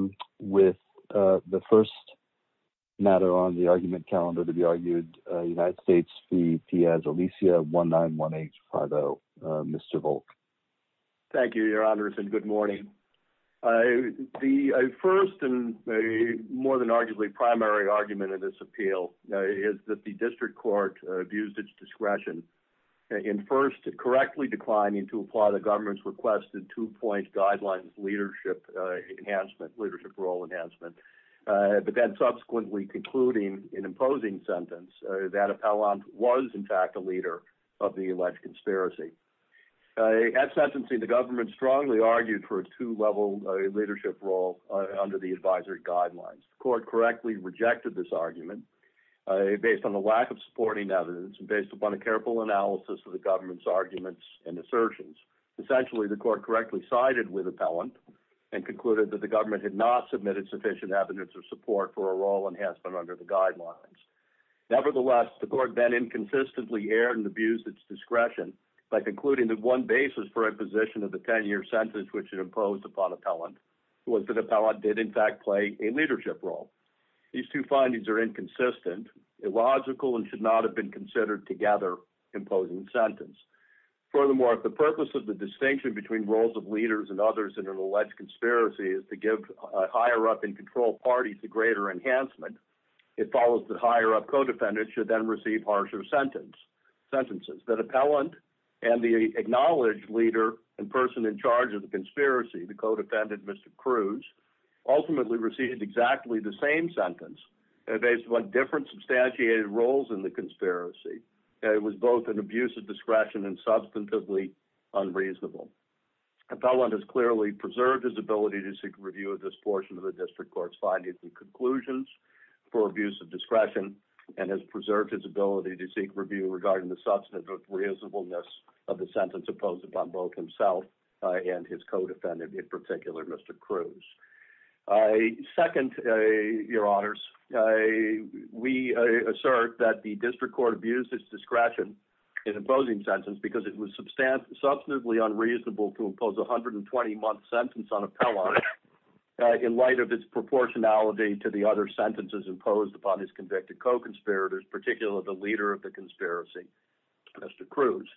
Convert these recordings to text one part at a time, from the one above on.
1918-50, Mr. Volk. Thank you, your honors, and good morning. The first and more than arguably primary argument in this appeal is that the district court abused its discretion in first correctly declining to apply the government's requested two-point guidelines of leadership enhancement, leadership role enhancement, but then subsequently concluding an imposing sentence that Appellant was in fact a leader of the alleged conspiracy. At sentencing, the government strongly argued for a two-level leadership role under the advisory guidelines. The court correctly rejected this argument based on the lack of supporting evidence and based upon a careful analysis of the government's arguments and assertions. Essentially, the court correctly sided with Appellant and concluded that the government had not submitted sufficient evidence or support for a role enhancement under the guidelines. Nevertheless, the court then inconsistently erred and abused its discretion by concluding that one basis for imposition of the 10-year sentence which it imposed upon Appellant was that Appellant did in fact play a leadership role. These two findings are inconsistent, illogical, and should not have been considered together in imposing sentence. Furthermore, if the purpose of the distinction between roles of leaders and others in an alleged conspiracy is to give a higher up in control party to greater enhancement, it follows that higher up co-defendants should then receive harsher sentences. That Appellant and the acknowledged leader and person in charge of the conspiracy, the co-defendant, Mr. Cruz, ultimately received exactly the same sentence based upon different substantiated roles in conspiracy. It was both an abuse of discretion and substantively unreasonable. Appellant has clearly preserved his ability to seek review of this portion of the district court's findings and conclusions for abuse of discretion and has preserved his ability to seek review regarding the substantive reasonableness of the sentence imposed upon both himself and his co-defendant, in particular, Mr. Cruz. Second, Your Honors, we assert that the district court abused its discretion in imposing sentence because it was substantively unreasonable to impose a 120-month sentence on Appellant in light of its proportionality to the other sentences imposed upon his convicted co-conspirators, particularly the leader of the conspiracy, Mr. Cruz.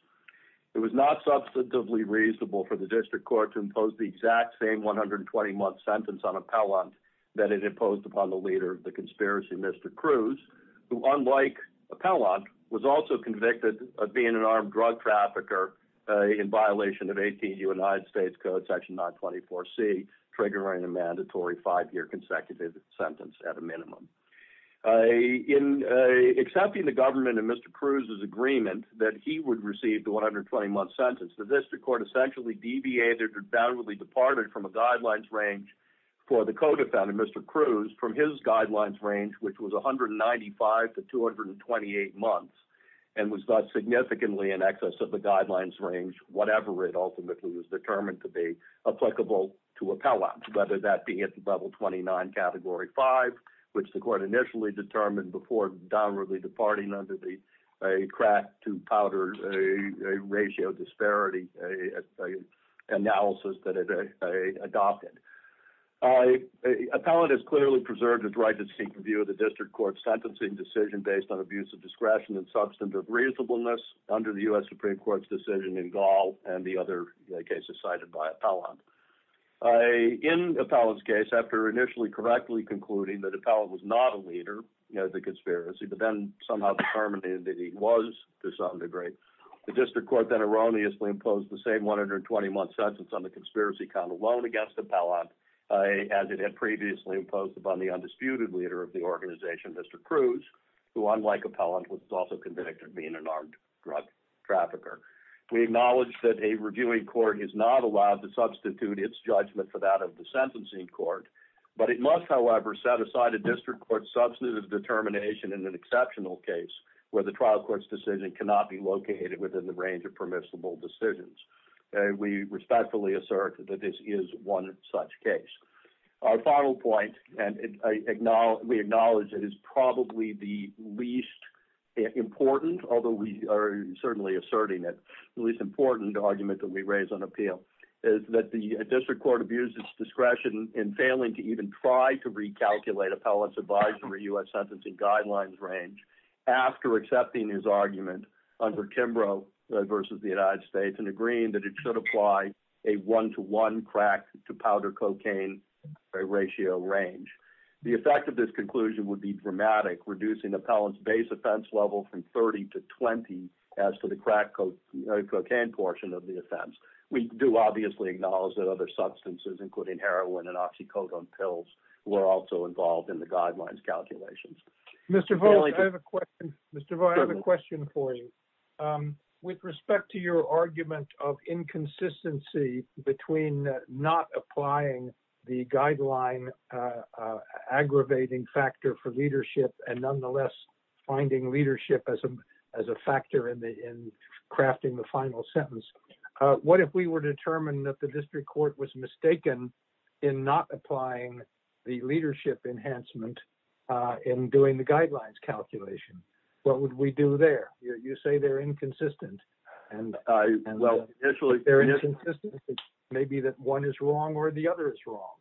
It was not substantively reasonable for the district court to impose the exact same 120-month sentence on Appellant that it imposed upon the leader of the conspiracy, Mr. Cruz, who, unlike Appellant, was also convicted of being an armed drug trafficker in violation of 18 United States Code Section 924C, triggering a mandatory five-year consecutive sentence at a minimum. In accepting the government and Mr. Cruz's agreement that he would receive the 120-month sentence, the district court essentially deviated or debunkedly departed from a guidelines range for the co-defendant, Mr. Cruz, from his guidelines range, which was 195 to 228 months, and was thus significantly in excess of the guidelines range, whatever it ultimately was determined to be applicable to Appellant, whether that be at the level 29, Category 5, which the court initially determined before downwardly departing under the crack-to-powder ratio disparity analysis that it adopted. Appellant has clearly preserved his right to seek review of the district court's sentencing decision based on abuse of discretion and substantive reasonableness under the U.S. Supreme Court's decision in Gall and the other cases cited by Appellant. In Appellant's case, after initially correctly concluding that Appellant was not a leader of the conspiracy, but then somehow determined that he was, to some degree, the district court then erroneously imposed the same 120-month sentence on the conspiracy count alone against Appellant, as it had previously imposed upon the undisputed leader of the organization, Mr. Cruz, who, unlike Appellant, was also convicted of being an armed drug trafficker. We acknowledge that a reviewing court is not allowed to substitute its judgment for that of the sentencing court, but it must, however, set aside a district court's substantive determination in an exceptional case where the trial court's decision cannot be located within the range of permissible decisions. We respectfully assert that this is one such case. Our final point, and we acknowledge it is probably the least important, although we are certainly asserting it, the least important argument that we raise on appeal, is that the in failing to even try to recalculate Appellant's advisory U.S. sentencing guidelines range after accepting his argument under Kimbrough versus the United States and agreeing that it should apply a one-to-one crack-to-powder-cocaine ratio range. The effect of this conclusion would be dramatic, reducing Appellant's base offense level from 30 to 20 as to the crack-to-powder-cocaine portion of the offense. We do obviously acknowledge that other substances, including heroin and oxycodone pills, were also involved in the guidelines calculations. Mr. Vogt, I have a question. Mr. Vogt, I have a question for you. With respect to your argument of inconsistency between not applying the guideline aggravating factor for leadership and nonetheless finding leadership as a factor in crafting the final sentence, what if we were determined that the district court was mistaken in not applying the leadership enhancement in doing the guidelines calculation? What would we do there? You say they are inconsistent. They are inconsistent. It may be that one is wrong or the other is wrong.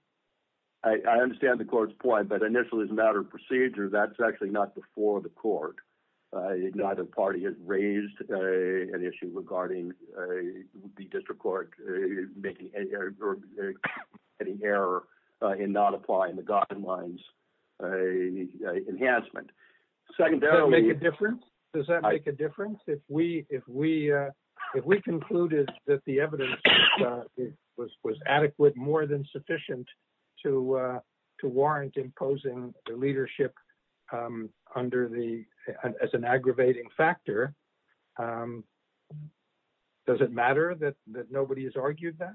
I understand the court's point, but initially, as a matter of procedure, that's actually not before the court. Neither party has raised an issue regarding the district court making any error in not applying the guidelines enhancement. Secondarily— Does that make a difference? Does that make a difference? If we concluded that the evidence was adequate, more than sufficient, to warrant imposing the leadership as an aggravating factor, does it matter that nobody has argued that?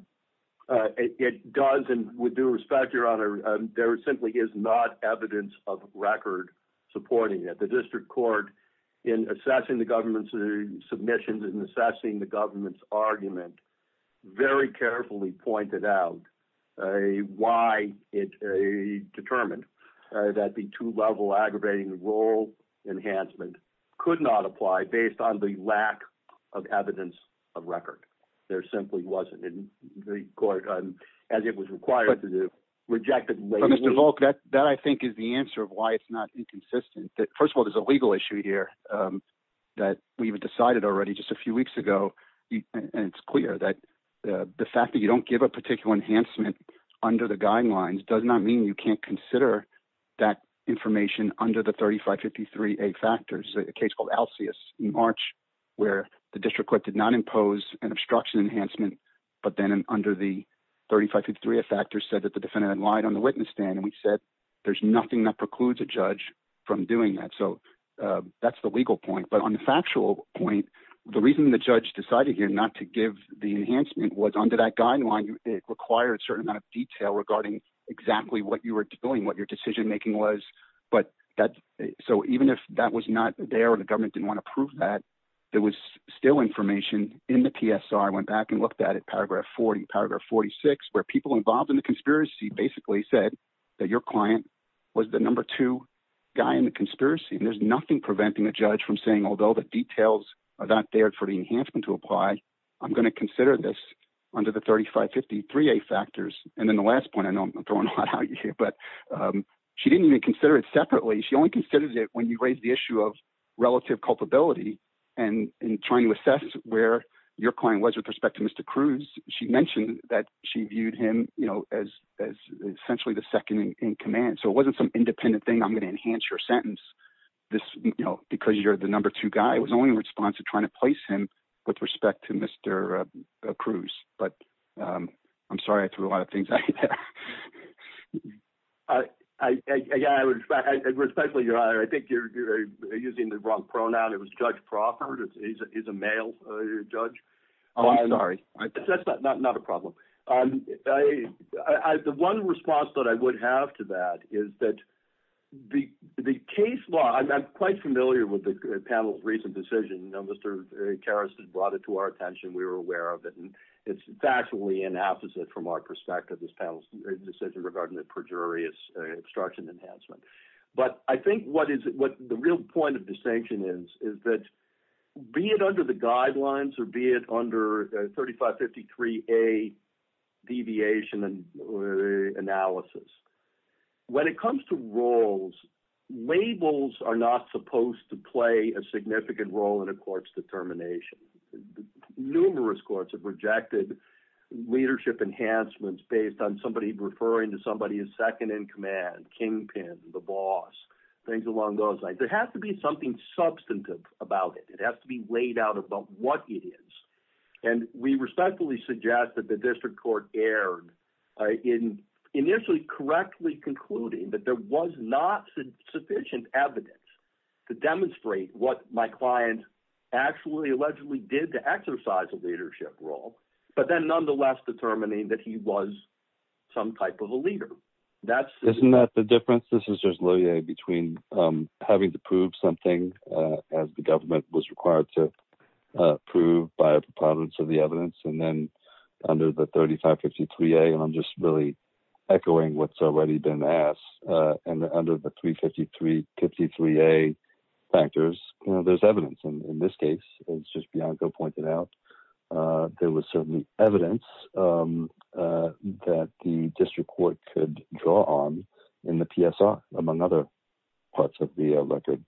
It does. With due respect, Your Honor, there simply is not evidence of record supporting that. The district court, in assessing the government's submissions and assessing the very carefully pointed out why it determined that the two-level aggravating role enhancement could not apply based on the lack of evidence of record. There simply wasn't in the court, as it was required to do. Rejected— Mr. Volk, that, I think, is the answer of why it's not inconsistent. First of all, there's a legal issue here that we've decided already just a few weeks ago. It's clear that the fact that you don't give a particular enhancement under the guidelines does not mean you can't consider that information under the 3553A factors. A case called Alseus in March, where the district court did not impose an obstruction enhancement, but then under the 3553A factors said that the defendant had lied on the witness stand. We said there's nothing that precludes a judge from doing that. That's the legal point. On the factual point, the reason the judge decided here not to give the enhancement was under that guideline, it required a certain amount of detail regarding exactly what you were doing, what your decision-making was. Even if that was not there or the government didn't want to prove that, there was still information in the PSR. I went back and looked at it, paragraph 40, paragraph 46, where people involved in the conspiracy basically said that your client was the number two guy in the conspiracy. There's nothing preventing a judge from saying, although the details are not there for the enhancement to apply, I'm going to consider this under the 3553A factors. Then the last point, I know I'm throwing a lot out here, but she didn't even consider it separately. She only considered it when you raised the issue of relative culpability. In trying to assess where your client was with respect to Mr. Cruz, she mentioned that she viewed him as essentially the second in command. It wasn't some independent thing, I'm going to enhance your sentence, because you're the number two guy. It was only in response to trying to place him with respect to Mr. Cruz. I'm sorry, I threw a lot of things out here. Again, I respect your honor. I think you're using the wrong pronoun. It was Judge Proffert. He's a male judge. I'm sorry. That's not a problem. The one response that I would have to that is that the case law, I'm quite familiar with the panel's recent decision. Mr. Karas brought it to our attention. We were aware of it. It's factually an opposite from our perspective, this panel's decision regarding the perjurious obstruction enhancement. I think what the real point of distinction is, is that be it under the guidelines or be it under 3553A deviation and analysis, when it comes to roles, labels are not supposed to play a significant role in a court's determination. Numerous courts have rejected leadership enhancements based on somebody referring to somebody as second in command, kingpin, the boss, things along those lines. There has to be something substantive about it. It has to be laid out about what it is. We respectfully suggest that the district court erred in initially correctly concluding that there was not sufficient evidence to demonstrate what my client actually allegedly did to exercise a leadership role, but then nonetheless determining that he was some type of a leader. Isn't that the difference? This is just loyally between having to prove something as the government was required to prove by a preponderance of the evidence and then under the 3553A, and I'm just really echoing what's already been asked, and under the 3553A factors, there's evidence. In this case, as just Bianco pointed out, there was certainly evidence that the district court could draw on in the PSR, among other parts of the record.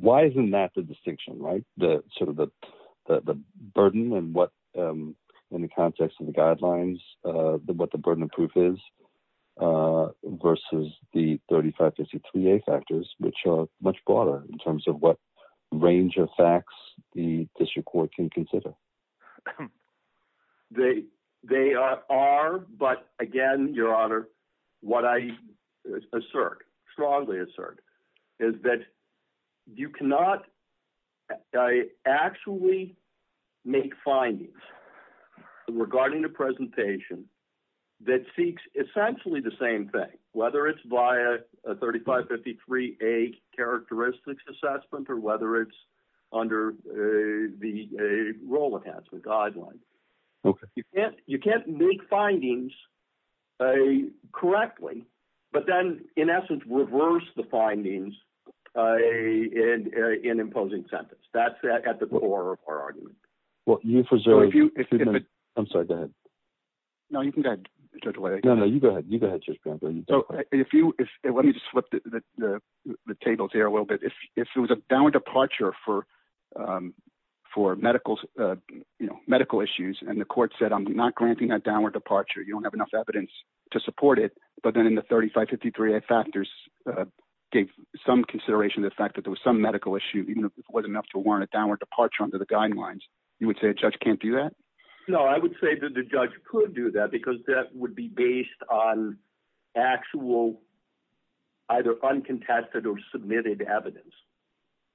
Why isn't that the distinction? The burden in the context of the guidelines, what the burden of proof is versus the 3553A factors, which are much broader in terms of what range of facts the district court can consider. They are, but again, Your Honor, what I strongly assert is that you cannot actually make findings regarding the presentation that seeks essentially the same thing, whether it's via a 3553A characteristics assessment or under the role enhancement guidelines. You can't make findings correctly, but then in essence reverse the findings in imposing sentence. That's at the core of our argument. Let me just flip the tables here a little bit. If it was a downward departure for medical issues and the court said, I'm not granting that downward departure, you don't have enough evidence to support it, but then in the 3553A factors gave some consideration to the fact that there was some medical issue, even if it wasn't enough to warrant a downward departure under the guidelines, you would say a judge can't do that? No, I would say that the judge could do that because that would be based on actual either uncontested or submitted evidence,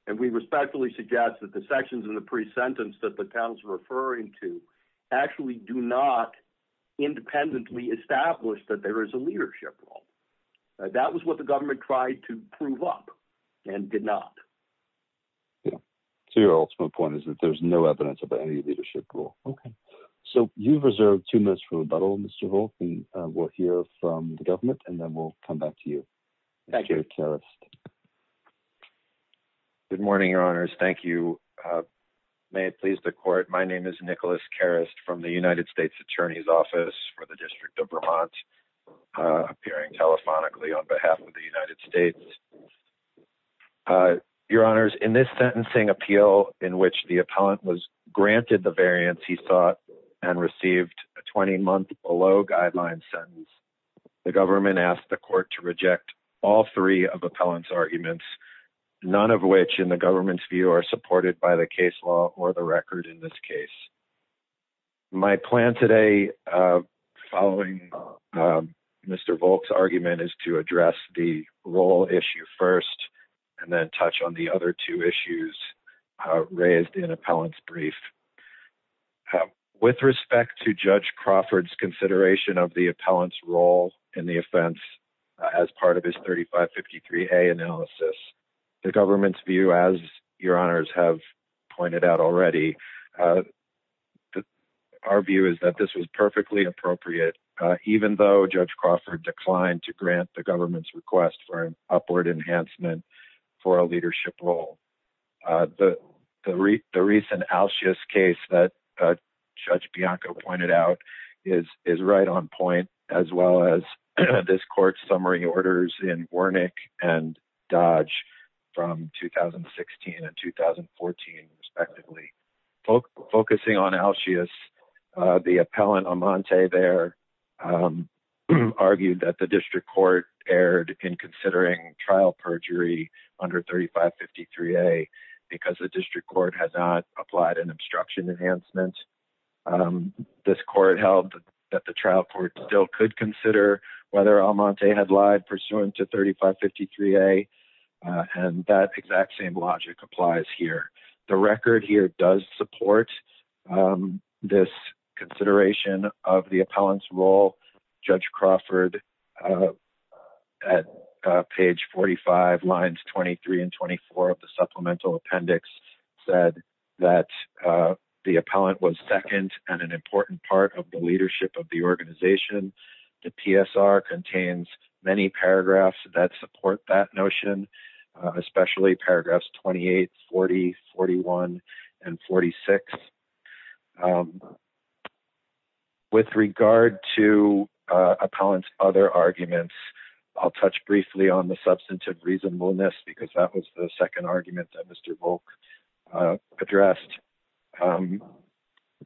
and we respectfully suggest that the sections in the pre-sentence that the panel's referring to actually do not independently establish that there is a leadership role. That was what the government tried to prove up and did not. Yeah. So your ultimate point is that there's no evidence of any leadership role. Okay. So you've reserved two minutes for rebuttal, Mr. Holt, and we'll hear from the government and then we'll come back to you. Thank you. Good morning, your honors. Thank you. May it please the court. My name is Nicholas Karest from the United States attorney's office for the district of Vermont, appearing telephonically on behalf of the United States. Your honors, in this sentencing appeal in which the appellant was granted the variance he sought and received a 20 month below guideline sentence. The government asked the court to reject all three of appellant's arguments, none of which in the government's view are supported by the case law or the record in this case. My plan today following Mr. Volk's argument is to address the role issue first and then touch on the other two issues raised in appellant's brief. With respect to judge Crawford's consideration of the appellant's role in the offense as part of his 3553A analysis, the government's view as your honors have pointed out already, our view is that this was perfectly appropriate even though judge Crawford declined to grant the government's request for an upward enhancement for a leadership role. The recent case that judge Bianco pointed out is right on point as well as this court's summary orders in Wernick and Dodge from 2016 and 2014 respectively. Focusing on Alcius, the appellant Amante there argued that the district court erred in considering trial perjury under 3553A because the district court has not applied an obstruction enhancement. This court held that the trial court still could consider whether Amante had lied pursuant to 3553A and that exact same logic applies here. The record here does support this consideration of the appellant's role. Judge Crawford at page 45 lines 23 and 24 of the supplemental appendix said that the appellant was second and an important part of the leadership of the organization. The PSR contains many paragraphs that support that notion, especially paragraphs 28, 40, 41, and 46. With regard to appellant's other arguments, I'll touch briefly on the substantive reasonableness because that was the second argument that Mr. Volk addressed.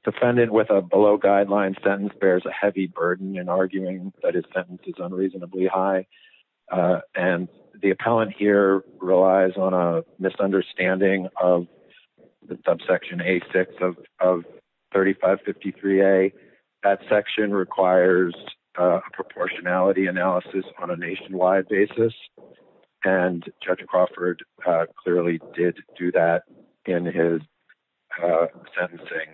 Defendant with a below guideline sentence bears a heavy burden in arguing that his sentence is unreasonably high and the appellant here relies on a misunderstanding of the subsection A6 of 3553A. That section requires a proportionality analysis on a nationwide basis and Judge Crawford clearly did do that in his sentencing.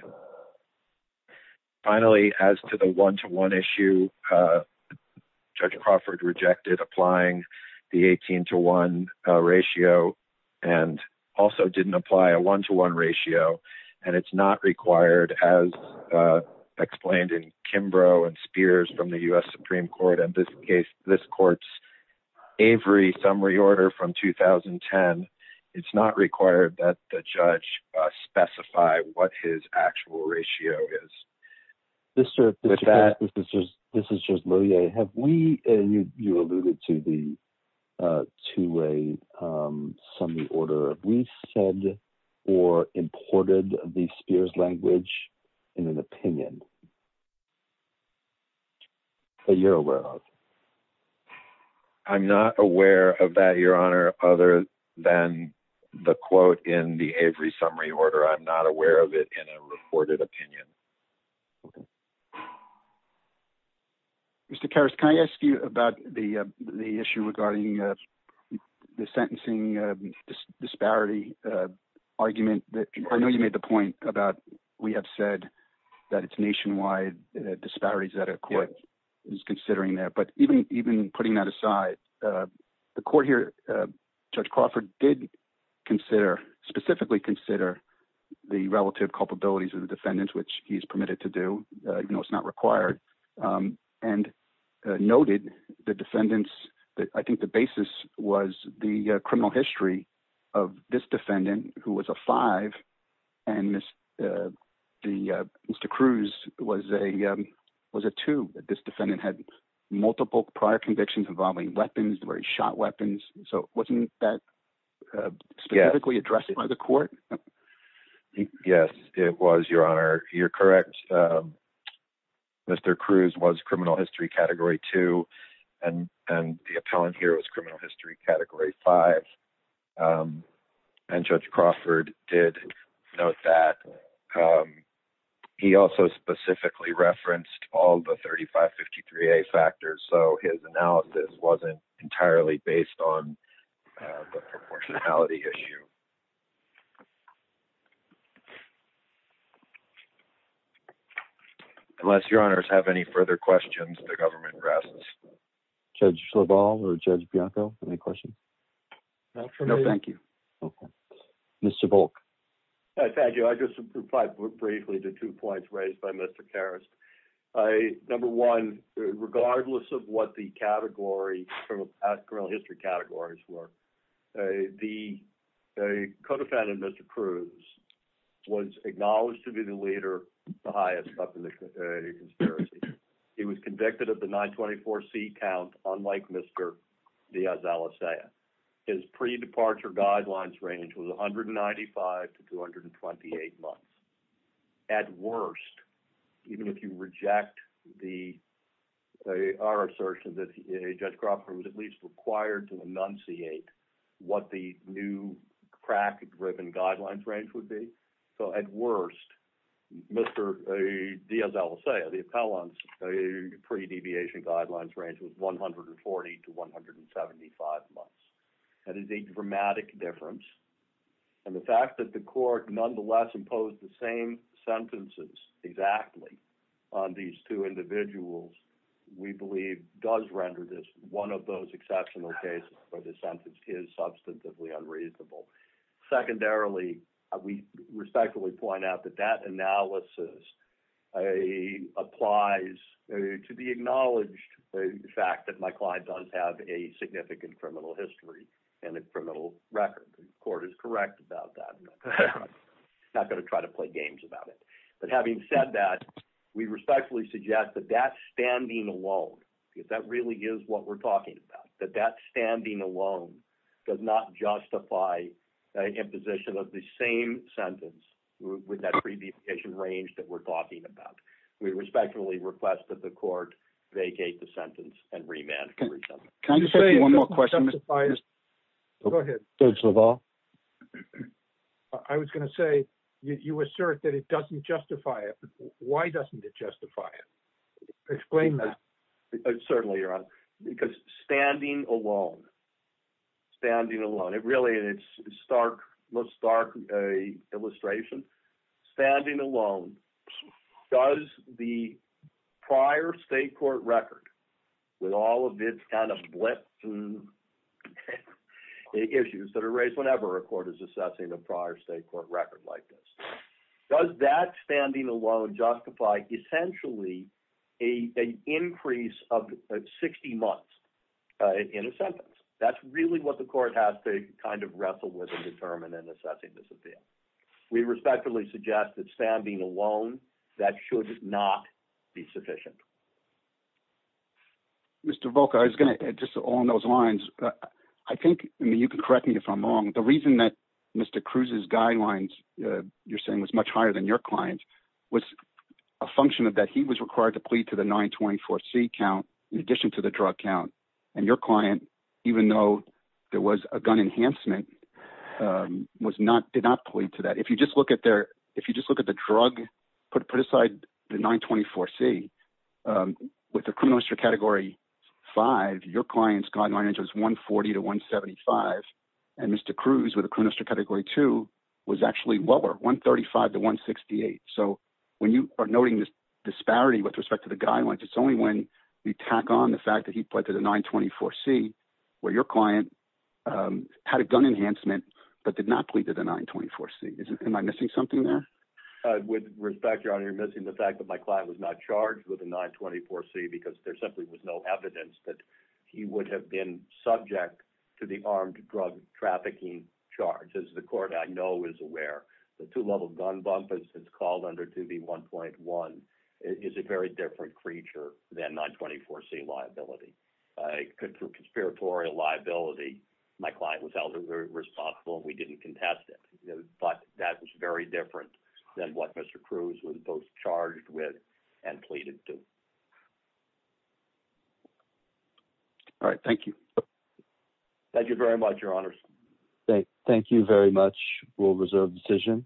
Finally, as to the one-to-one issue, Judge Crawford rejected applying the 18-to-1 ratio and also didn't apply a one-to-one ratio and it's not required as explained in Kimbrough and Spears from the U.S. Supreme Court in this case, this court's Avery summary order from 2010. It's not required that the judge specify what his actual ratio is. This is Judge Lohier. You alluded to the two-way summary order. Have we said or imported the Spears language in an opinion that you're aware of? I'm not aware of that, Your Honor, other than the quote in the Avery summary order. I'm not aware of it in a reported opinion. Mr. Karras, can I ask you about the issue regarding the sentencing disparity argument? I know you made the point about we have said that it's nationwide disparities that a court is considering there, but even putting that aside, the court here, Judge Crawford did specifically consider the relative culpabilities of the defendants, which he's permitted to do even though it's not required, and noted the defendants. I think the basis was the criminal history of this defendant, who was a five, and Mr. Cruz was a two. This defendant had multiple prior convictions involving weapons, where he shot weapons, so wasn't that specifically addressed by the court? Yes, it was, Your Honor. You're correct. Mr. Cruz was criminal history category five, and Judge Crawford did note that. He also specifically referenced all the 3553A factors, so his analysis wasn't entirely based on the proportionality issue. Unless Your Honors have any further questions, the government rests. Judge Sloval or Judge Bianco, any questions? No, thank you. Mr. Volk. Thank you. I just replied briefly to two points raised by Mr. Karras. Number one, regardless of what the criminal history categories were, the co-defendant, Mr. Cruz, was acknowledged to be the leader, the highest up in the count, unlike Mr. Diaz-Alizea. His pre-departure guidelines range was 195 to 228 months. At worst, even if you reject our assertion that Judge Crawford was at least required to enunciate what the new crack-driven guidelines range would be, so at worst, Mr. Diaz-Alizea, the appellant's pre-deviation guidelines range was 140 to 175 months. That is a dramatic difference, and the fact that the court nonetheless imposed the same sentences exactly on these two individuals, we believe, does render this one of those exceptional cases where the sentence is acknowledged, the fact that my client does have a significant criminal history and a criminal record. The court is correct about that. I'm not going to try to play games about it. But having said that, we respectfully suggest that that standing alone, because that really is what we're talking about, that that standing alone does not justify an imposition of the same sentence with that pre-deviation range that we're talking about. We respectfully request that the court vacate the sentence and remand it. Can I just say one more question? Go ahead. Judge LaValle? I was going to say, you assert that it doesn't justify it. Why doesn't it justify it? Explain that. Certainly, Your Honor, because standing alone, standing alone, it really is a stark illustration. Standing alone, does the prior state court record, with all of its kind of blip issues that are raised whenever a court is assessing a prior state court record like this, does that standing alone justify essentially an increase of 60 months in a sentence? That's really the court has to kind of wrestle with and determine in assessing this appeal. We respectfully suggest that standing alone, that should not be sufficient. Mr. Volk, I was going to, just along those lines, I think, I mean, you can correct me if I'm wrong. The reason that Mr. Cruz's guidelines, you're saying, was much higher than your client's, was a function of that he was required to plead to the 924C count in addition to the drug count. Your client, even though there was a gun enhancement, did not plead to that. If you just look at the drug, put aside the 924C, with a criminal history category 5, your client's guideline range was 140 to 175. Mr. Cruz, with a criminal history category 2, was actually lower, 135 to 168. When you are noting this disparity with respect to the guidelines, it's only when we tack on the fact that he pled to the 924C, where your client had a gun enhancement but did not plead to the 924C. Am I missing something there? With respect, your honor, you're missing the fact that my client was not charged with a 924C because there simply was no evidence that he would have been subject to the armed drug trafficking charge. As the court I know is aware, the two-level gun bump, as it's called under 2B1.1, is a very different creature than 924C liability. For conspiratorial liability, my client was held responsible. We didn't contest it, but that was very different than what Mr. Cruz was both charged with and pleaded to. All right. Thank you. Thank you very much, your honor. Okay. Thank you very much. We'll reserve the decision.